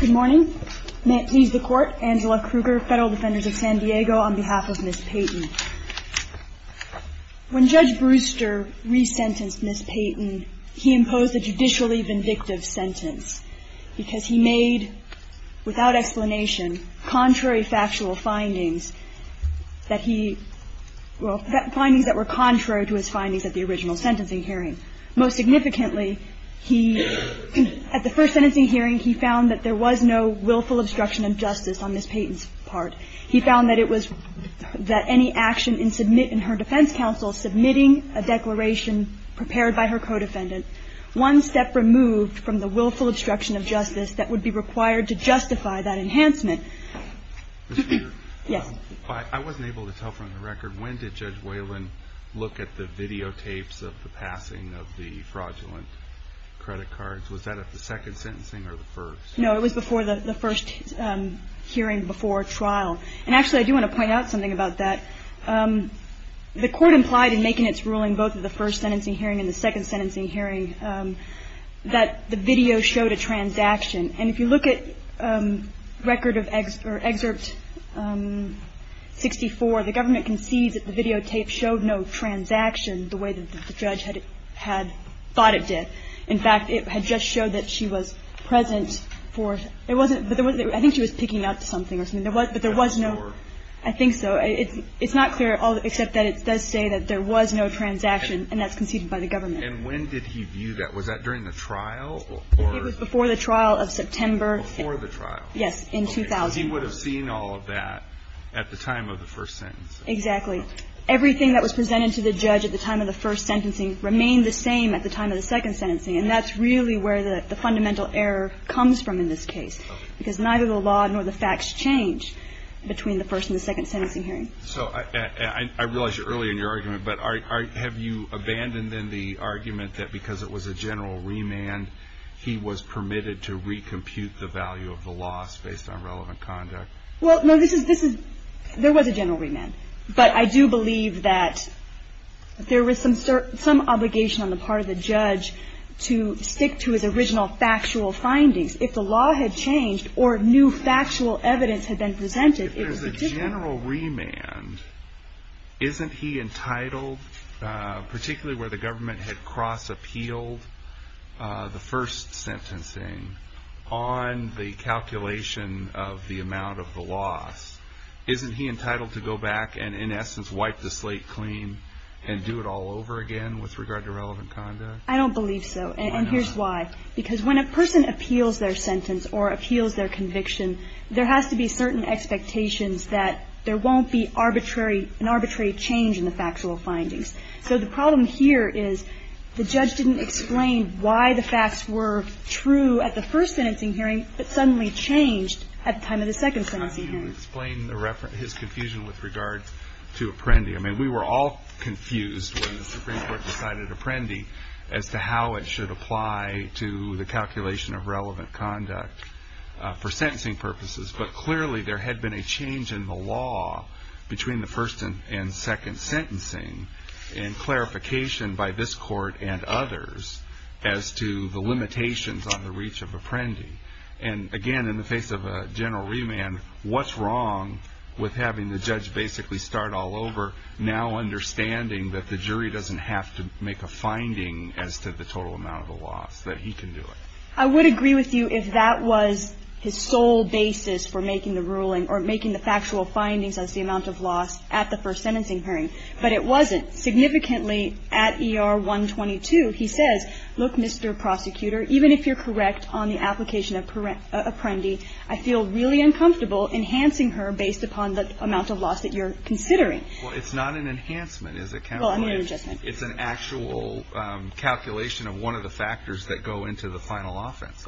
Good morning. May it please the Court, Angela Kruger, Federal Defenders of San Diego, on behalf of Ms. Peyton. When Judge Brewster resentenced Ms. Peyton, he imposed a judicially vindictive sentence because he made, without explanation, contrary factual findings that he, well, findings that were contrary to his findings at the original sentencing hearing. Most significantly, he, at the first sentencing hearing, he found that there was no willful obstruction of justice on Ms. Peyton's part. He found that it was, that any action in her defense counsel submitting a declaration prepared by her co-defendant, one step removed from the willful obstruction of justice that would be required to justify that enhancement. Mr. Peter. Yes. I wasn't able to tell from the record. When did Judge Whalen look at the videotapes of the passing of the fraudulent credit cards? Was that at the second sentencing or the first? No, it was before the first hearing before trial. And actually, I do want to point out something about that. The Court implied in making its ruling both at the first sentencing hearing and the second sentencing hearing that the video showed a transaction. And if you look at Record of Excerpt 64, the government concedes that the videotape showed no transaction the way that the judge had thought it did. In fact, it had just showed that she was present for, it wasn't, I think she was picking up something or something. But there was no, I think so. It's not clear, except that it does say that there was no transaction, and that's conceded by the government. And when did he view that? Was that during the trial? It was before the trial of September. Before the trial? Yes, in 2000. Okay. Because he would have seen all of that at the time of the first sentence. Exactly. Everything that was presented to the judge at the time of the first sentencing remained the same at the time of the second sentencing. And that's really where the fundamental error comes from in this case. Okay. Because neither the law nor the facts change between the first and the second sentencing hearing. So I realize you're early in your argument, but have you abandoned then the argument that because it was a general remand, he was permitted to recompute the value of the loss based on relevant conduct? Well, no, this is, there was a general remand. But I do believe that there was some obligation on the part of the judge to stick to his original factual findings. If the law had changed or new factual evidence had been presented, it was legitimate. But the general remand, isn't he entitled, particularly where the government had cross-appealed the first sentencing, on the calculation of the amount of the loss, isn't he entitled to go back and, in essence, wipe the slate clean and do it all over again with regard to relevant conduct? I don't believe so. And here's why. Because when a person appeals their sentence or appeals their conviction, there has to be certain expectations that there won't be arbitrary, an arbitrary change in the factual findings. So the problem here is the judge didn't explain why the facts were true at the first sentencing hearing, but suddenly changed at the time of the second sentencing hearing. Can you explain the reference, his confusion with regards to Apprendi? I mean, we were all confused when the Supreme Court decided Apprendi as to how it should apply to the calculation of relevant conduct for sentencing purposes. But clearly there had been a change in the law between the first and second sentencing and clarification by this court and others as to the limitations on the reach of Apprendi. And, again, in the face of a general remand, what's wrong with having the judge basically start all over, now understanding that the jury doesn't have to make a finding as to the total amount of the loss, that he can do it? I would agree with you if that was his sole basis for making the ruling or making the factual findings as the amount of loss at the first sentencing hearing. But it wasn't. Significantly, at ER 122, he says, Look, Mr. Prosecutor, even if you're correct on the application of Apprendi, I feel really uncomfortable enhancing her based upon the amount of loss that you're considering. Well, it's not an enhancement. Well, an adjustment. It's an actual calculation of one of the factors that go into the final offense.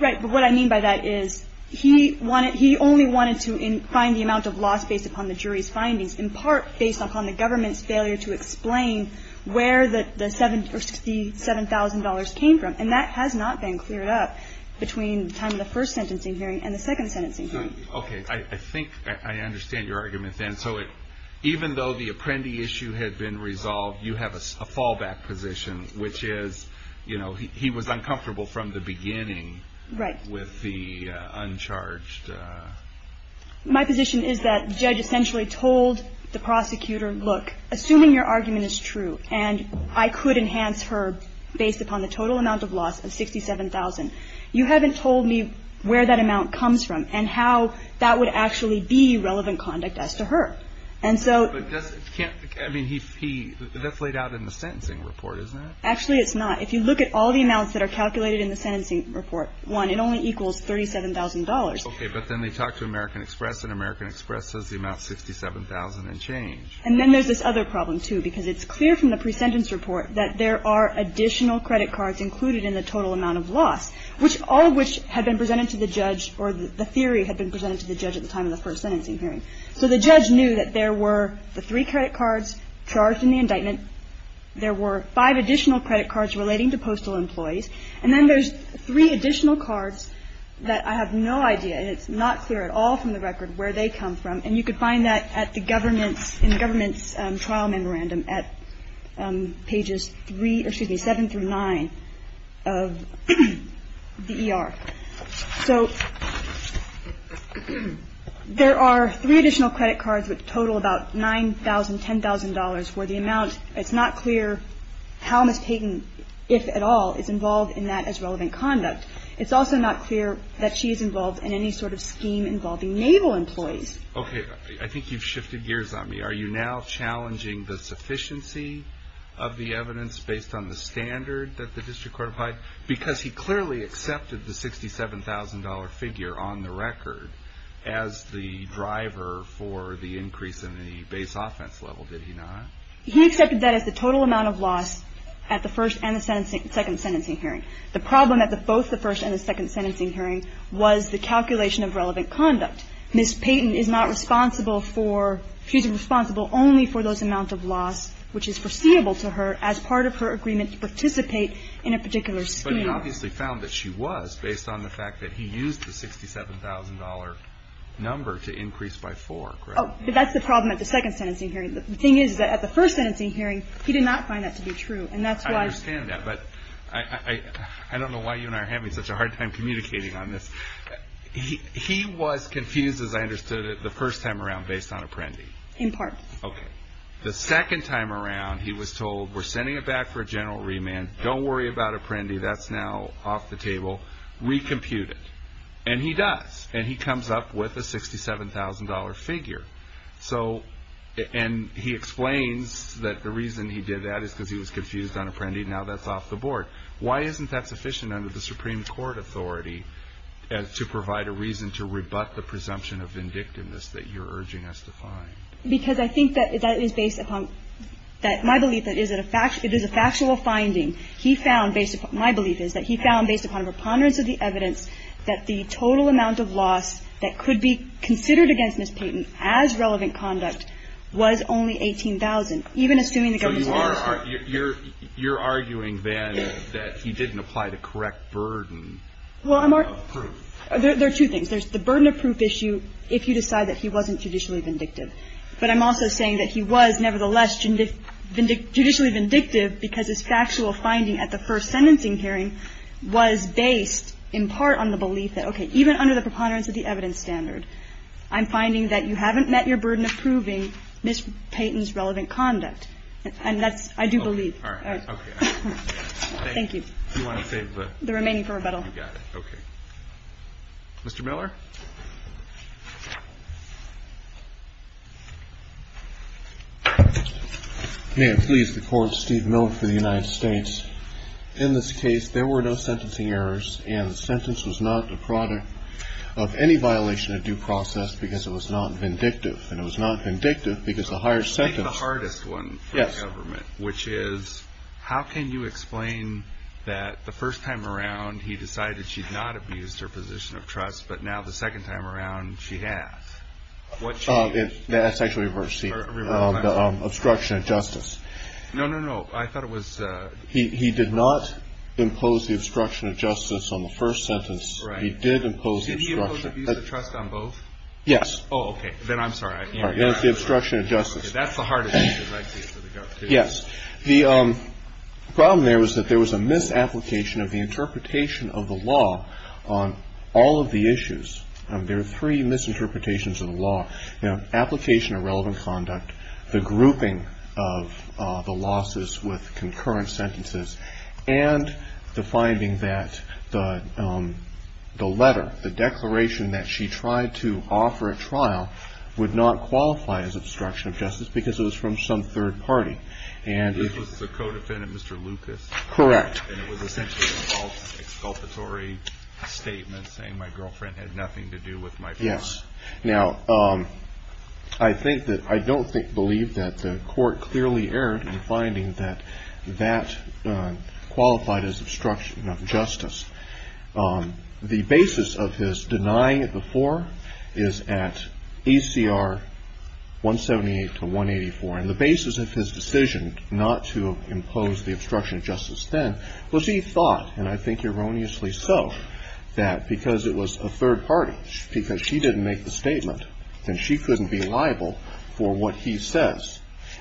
Right. But what I mean by that is he only wanted to find the amount of loss based upon the jury's findings, in part based upon the government's failure to explain where the $7,000 came from. And that has not been cleared up between the time of the first sentencing hearing and the second sentencing hearing. Okay. I think I understand your argument then. So even though the Apprendi issue had been resolved, you have a fallback position, which is, you know, he was uncomfortable from the beginning. Right. With the uncharged. My position is that the judge essentially told the prosecutor, look, assuming your argument is true and I could enhance her based upon the total amount of loss of $67,000, you haven't told me where that amount comes from and how that would actually be relevant conduct as to her. And so. I mean, that's laid out in the sentencing report, isn't it? Actually, it's not. If you look at all the amounts that are calculated in the sentencing report, one, it only equals $37,000. Okay. But then they talk to American Express and American Express says the amount is $67,000 and change. And then there's this other problem, too, because it's clear from the pre-sentence report that there are additional credit cards included in the total amount of loss, all of which had been presented to the judge or the theory had been presented to the judge at the time of the first sentencing hearing. So the judge knew that there were the three credit cards charged in the indictment. There were five additional credit cards relating to postal employees. And then there's three additional cards that I have no idea. And it's not clear at all from the record where they come from. And you could find that at the government's in government's trial memorandum at pages three or seven through nine of the ER. So there are three additional credit cards with total about 9000, where the amount, it's not clear how Ms. Payton, if at all, is involved in that as relevant conduct. It's also not clear that she is involved in any sort of scheme involving naval employees. Okay. I think you've shifted gears on me. Are you now challenging the sufficiency of the evidence based on the standard that the district court applied? Because he clearly accepted the $67,000 figure on the record as the driver for the increase in the base offense level, did he not? He accepted that as the total amount of loss at the first and the second sentencing hearing. The problem at both the first and the second sentencing hearing was the calculation of relevant conduct. Ms. Payton is not responsible for, she's responsible only for those amount of loss, which is foreseeable to her as part of her agreement to participate in a particular scheme. But he obviously found that she was based on the fact that he used the $67,000 number to increase by four, correct? Oh, that's the problem at the second sentencing hearing. The thing is that at the first sentencing hearing, he did not find that to be true. And that's why. I understand that. But I don't know why you and I are having such a hard time communicating on this. He was confused as I understood it the first time around based on Apprendi. In part. Okay. The second time around, he was told, we're sending it back for a general remand. Don't worry about Apprendi. That's now off the table. Recompute it. And he does. And he comes up with a $67,000 figure. So, and he explains that the reason he did that is because he was confused on Apprendi. Now that's off the board. Why isn't that sufficient under the Supreme Court authority to provide a reason to rebut the presumption of vindictiveness that you're urging us to find? Because I think that that is based upon that my belief that it is a factual finding. He found based upon, my belief is that he found based upon a preponderance of the evidence that the total amount of loss that could be considered against Ms. Payton as relevant conduct was only $18,000, even assuming the government's fairness. So you are, you're arguing then that he didn't apply the correct burden of proof. There are two things. There's the burden of proof issue if you decide that he wasn't judicially vindictive. But I'm also saying that he was, nevertheless, judicially vindictive because his factual finding at the first sentencing hearing was based in part on the belief that, okay, even under the preponderance of the evidence standard, I'm finding that you haven't met your burden of proving Ms. Payton's relevant conduct. And that's, I do believe. All right. Okay. Thank you. You want to save the? The remaining for rebuttal. You got it. Okay. Mr. Miller. May it please the court, Steve Miller for the United States. In this case, there were no sentencing errors and the sentence was not the product of any violation of due process because it was not vindictive. And it was not vindictive because the higher sentence. I think the hardest one for the government. Yes. Which is, how can you explain that the first time around he decided she'd not abused her position of trust, but now the second time around she has? That's actually reversed, Steve. Reversed what? Obstruction of justice. No, no, no. I thought it was. He did not impose the obstruction of justice on the first sentence. Right. He did impose the obstruction. Did he impose abuse of trust on both? Yes. Oh, okay. Then I'm sorry. That's the obstruction of justice. Yes. The problem there was that there was a misapplication of the interpretation of the law on all of the issues. There are three misinterpretations of the law. You know, application of relevant conduct, the grouping of the losses with concurrent sentences, and the finding that the letter, the declaration that she tried to offer a trial would not qualify as obstruction of justice because it was from some third party. This was the co-defendant, Mr. Lucas? Correct. And it was essentially an exculpatory statement saying my girlfriend had nothing to do with my family? Yes. Now, I think that, I don't believe that the court clearly erred in finding that that qualified as obstruction of justice. The basis of his denying it before is at ACR 178 to 184. And the basis of his decision not to impose the obstruction of justice then was he thought, and I think erroneously so, that because it was a third party, because she didn't make the statement, then she couldn't be liable for what he says.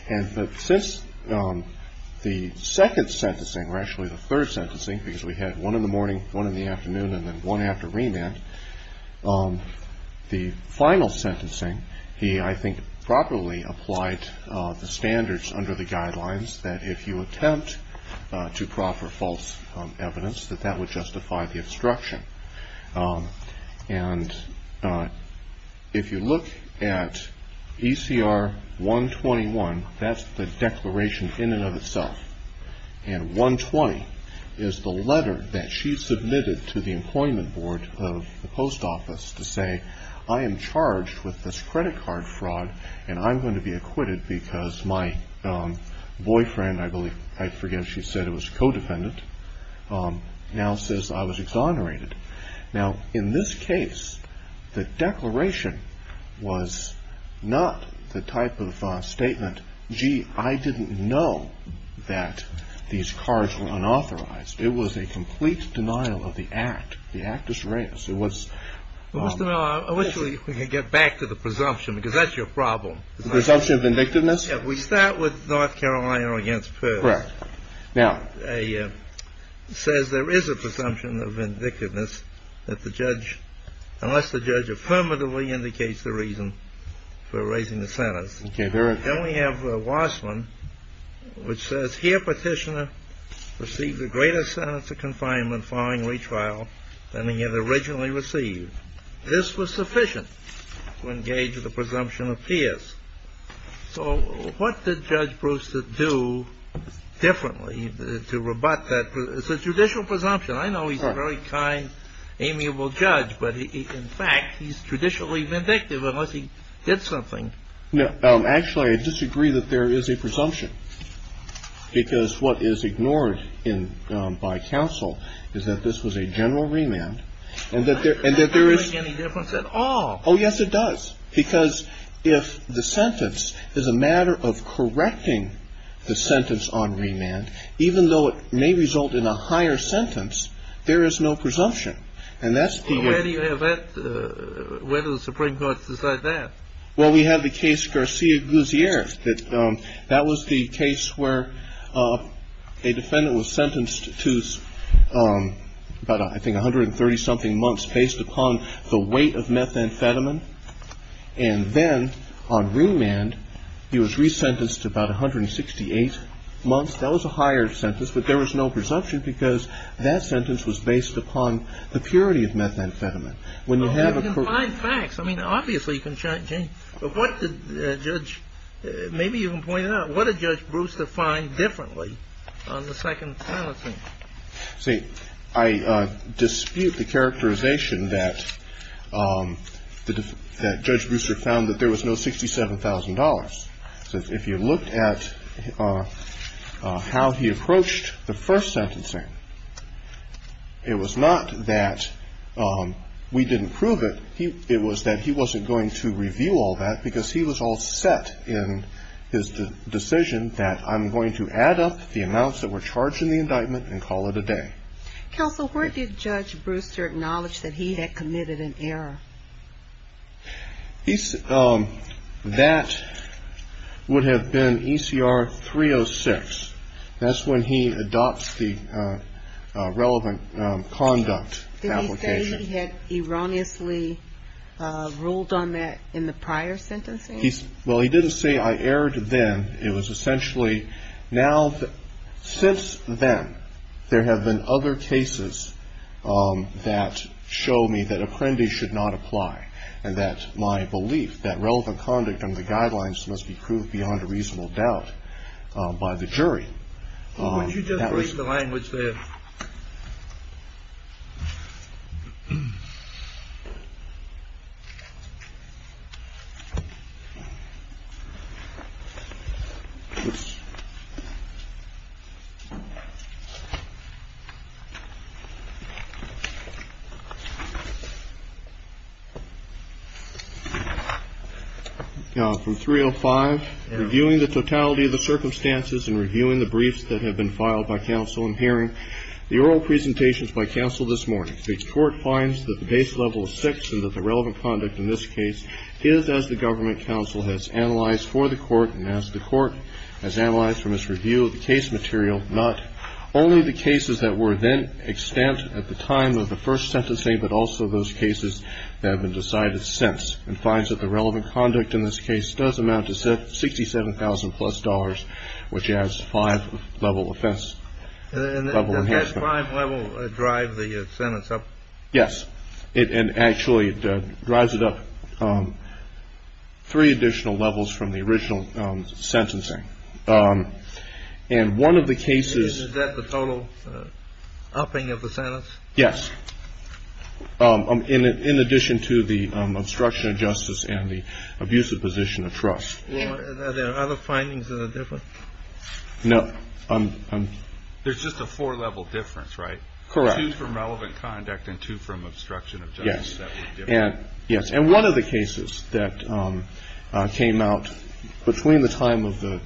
And since the second sentencing, or actually the third sentencing, because we had one in the morning, one in the afternoon, and then one after remand, the final sentencing, he, I think, properly applied the standards under the guidelines that if you attempt to proffer false evidence, that that would justify the obstruction. And if you look at ECR 121, that's the declaration in and of itself. And 120 is the letter that she submitted to the employment board of the post office to say, I am charged with this credit card fraud, and I'm going to be acquitted because my boyfriend, I believe, I forget if she said it was a co-defendant, now says I was exonerated. Now, in this case, the declaration was not the type of statement, gee, I didn't know that these cards were unauthorized. It was a complete denial of the act. The actus reus. It was. Well, Mr. Miller, I wish we could get back to the presumption, because that's your problem. The presumption of vindictiveness? Yeah. We start with North Carolina against Pearl. Correct. Now. It says there is a presumption of vindictiveness that the judge, unless the judge affirmatively indicates the reason for raising the sentence. Okay. Then we have Wassman, which says here petitioner received a greater sentence of confinement following retrial than he had originally received. This was sufficient to engage the presumption of Pierce. So what did Judge Brewster do differently to rebut that? It's a judicial presumption. I know he's a very kind, amiable judge, but in fact, he's traditionally vindictive unless he did something. No. Actually, I disagree that there is a presumption, because what is ignored by counsel is that this was a general remand. And that there is. That doesn't make any difference at all. Oh, yes, it does. Because if the sentence is a matter of correcting the sentence on remand, even though it may result in a higher sentence, there is no presumption. And that's the. Where do you have that? Where do the Supreme Court decide that? Well, we have the case Garcia-Guzier. That was the case where a defendant was sentenced to about, I think, 130-something months based upon the weight of methamphetamine. And then on remand, he was resentenced to about 168 months. That was a higher sentence, but there was no presumption because that sentence was based upon the purity of methamphetamine. Well, you can find facts. I mean, obviously, you can change. But what did Judge ‑‑ maybe you can point out, what did Judge Brewster find differently on the second sentencing? See, I dispute the characterization that Judge Brewster found that there was no $67,000. If you looked at how he approached the first sentencing, it was not that we didn't prove it. It was that he wasn't going to review all that because he was all set in his decision that I'm going to add up the amounts that were charged in the indictment and call it a day. Counsel, where did Judge Brewster acknowledge that he had committed an error? That would have been ECR 306. That's when he adopts the relevant conduct application. Did he say he had erroneously ruled on that in the prior sentencing? Well, he didn't say I erred then. It was essentially, now, since then, there have been other cases that show me that apprendi should not apply and that my belief, that relevant conduct under the guidelines must be proved beyond a reasonable doubt by the jury. You just read the language there. Now, from 305, reviewing the totality of the circumstances and reviewing the briefs that have been filed by counsel in hearing, the oral presentations by counsel this morning. And does that five level drive the sentence up? Yes. And actually it drives it up three additional levels from the original sentencing. And one of the cases. Is that the total upping of the sentence? Yes. In addition to the obstruction of justice and the abusive position of trust. Are there other findings of the difference? No. There's just a four level difference, right? Correct. Two from relevant conduct and two from obstruction of justice. Yes. Yes. And one of the cases that came out between the time of the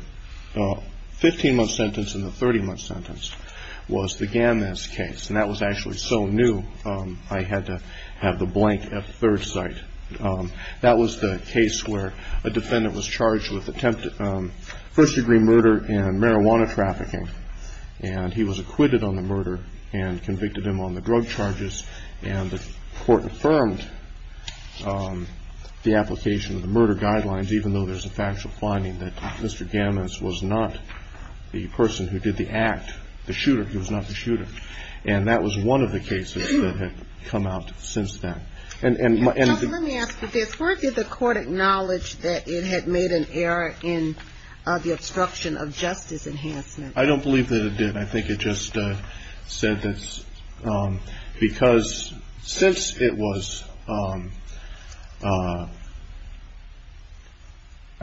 15 month sentence and the 30 month sentence was the Gammas case. And that was actually so new, I had to have the blank at third sight. That was the case where a defendant was charged with attempted first degree murder and marijuana trafficking. And he was acquitted on the murder and convicted him on the drug charges. And the court affirmed the application of the murder guidelines, even though there's a factual finding that Mr. Gammas was not the person who did the act, the shooter. He was not the shooter. And that was one of the cases that had come out since then. Let me ask you this, where did the court acknowledge that it had made an error in the obstruction of justice enhancement? I don't believe that it did. I think it just said that because since it was, I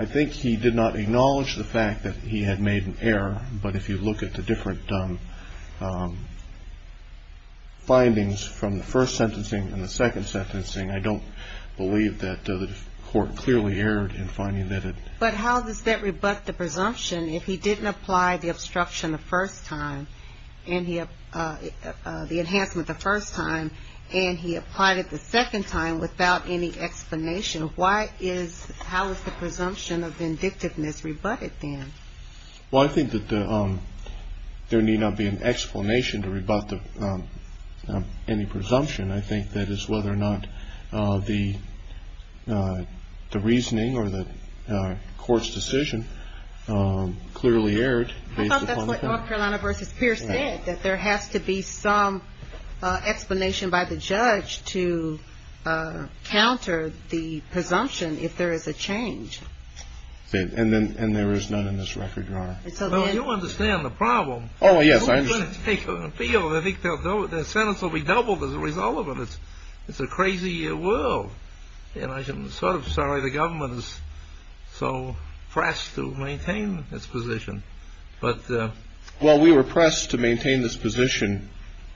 think he did not acknowledge the fact that he had made an error. But if you look at the different findings from the first sentencing and the second sentencing, I don't believe that the court clearly erred in finding that it. But how does that rebut the presumption if he didn't apply the obstruction the first time, and the enhancement the first time, and he applied it the second time without any explanation? Why is, how is the presumption of vindictiveness rebutted then? Well, I think that there need not be an explanation to rebut any presumption. And I think that is whether or not the reasoning or the court's decision clearly erred. I thought that's what North Carolina versus Pierce said, that there has to be some explanation by the judge to counter the presumption if there is a change. And there is none in this record, Your Honor. Well, you understand the problem. Oh, yes, I understand. I think the sentence will be doubled as a result of it. It's a crazy world. And I'm sort of sorry the government is so pressed to maintain its position. Well, we were pressed to maintain this position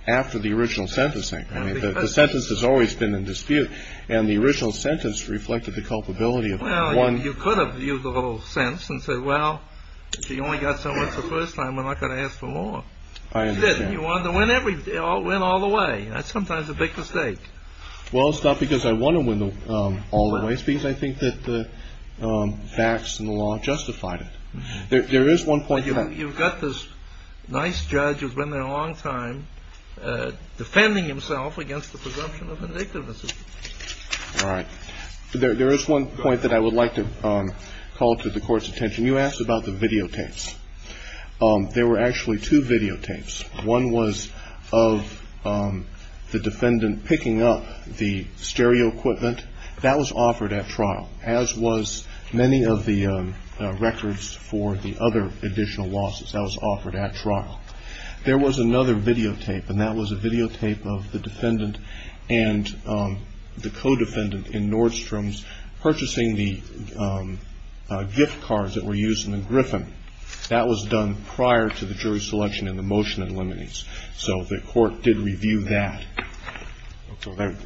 after the original sentencing. The sentence has always been in dispute. And the original sentence reflected the culpability of one... Well, you could have used a little sense and said, Well, you only got so much the first time. We're not going to ask for more. I understand. You wanted to win all the way. That's sometimes a big mistake. Well, it's not because I want to win all the way. It's because I think that the facts and the law justified it. There is one point... You've got this nice judge who's been there a long time, defending himself against the presumption of vindictiveness. All right. There is one point that I would like to call to the Court's attention. You asked about the videotapes. There were actually two videotapes. One was of the defendant picking up the stereo equipment. That was offered at trial, as was many of the records for the other additional losses. That was offered at trial. There was another videotape, and that was a videotape of the defendant and the co-defendant in Nordstrom's purchasing the gift cards that were used in the Griffin. That was done prior to the jury selection in the motion that eliminates. So the Court did review that.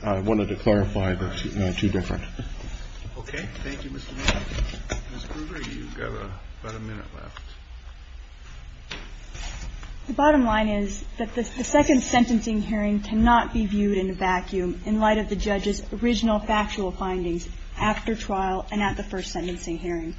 I wanted to clarify, but it's two different. Okay. Thank you, Mr. Newman. Ms. Gruber, you've got about a minute left. The bottom line is that the second sentencing hearing cannot be viewed in a vacuum in light of the judge's original factual findings after trial and at the first sentencing hearing.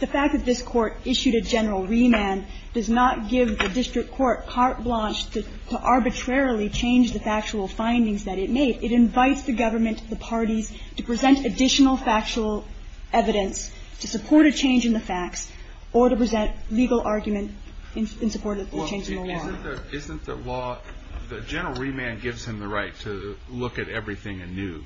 The fact that this Court issued a general remand does not give the district court carte blanche to arbitrarily change the factual findings that it made. It invites the government, the parties, to present additional factual evidence to support a change in the facts or to present legal argument in support of the change in the law. Isn't the law, the general remand gives him the right to look at everything anew,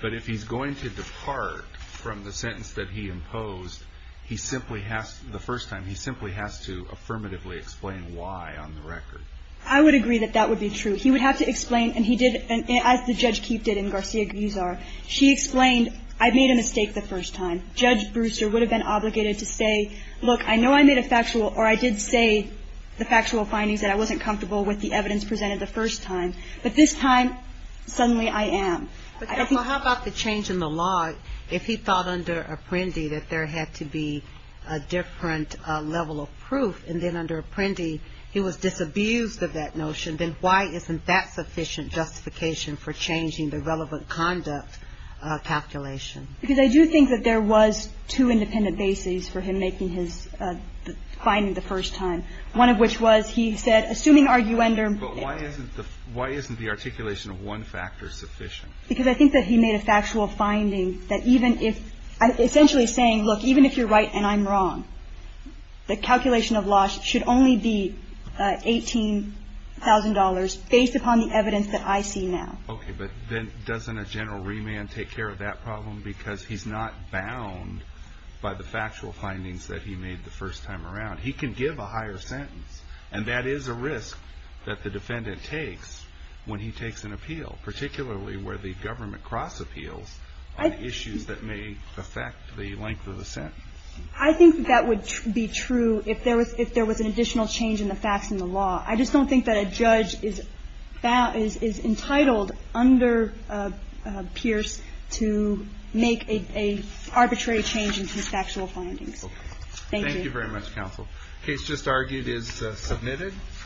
but if he's going to depart from the sentence that he imposed, he simply has to, the first time, he simply has to affirmatively explain why on the record. I would agree that that would be true. He would have to explain, and he did, as the judge Keefe did in Garcia-Guzar. She explained, I made a mistake the first time. Judge Brewster would have been obligated to say, look, I know I made a factual or I did say the factual findings that I wasn't comfortable with the evidence presented the first time, but this time, suddenly I am. But how about the change in the law? If he thought under Apprendi that there had to be a different level of proof and then under Apprendi he was disabused of that notion, then why isn't that sufficient justification for changing the relevant conduct calculation? Because I do think that there was two independent bases for him making his findings the first time, one of which was he said, assuming arguender. But why isn't the articulation of one factor sufficient? Because I think that he made a factual finding that even if, essentially saying, look, even if you're right and I'm wrong, the calculation of loss should only be $18,000 based upon the evidence that I see now. Okay. But then doesn't a general remand take care of that problem? Because he's not bound by the factual findings that he made the first time around. He can give a higher sentence. And that is a risk that the defendant takes when he takes an appeal, particularly where the government cross-appeals on issues that may affect the length of the sentence. I think that would be true if there was an additional change in the facts in the law. I just don't think that a judge is entitled under Pierce to make an arbitrary change in his factual findings. Thank you. Thank you very much, counsel. The case just argued is submitted.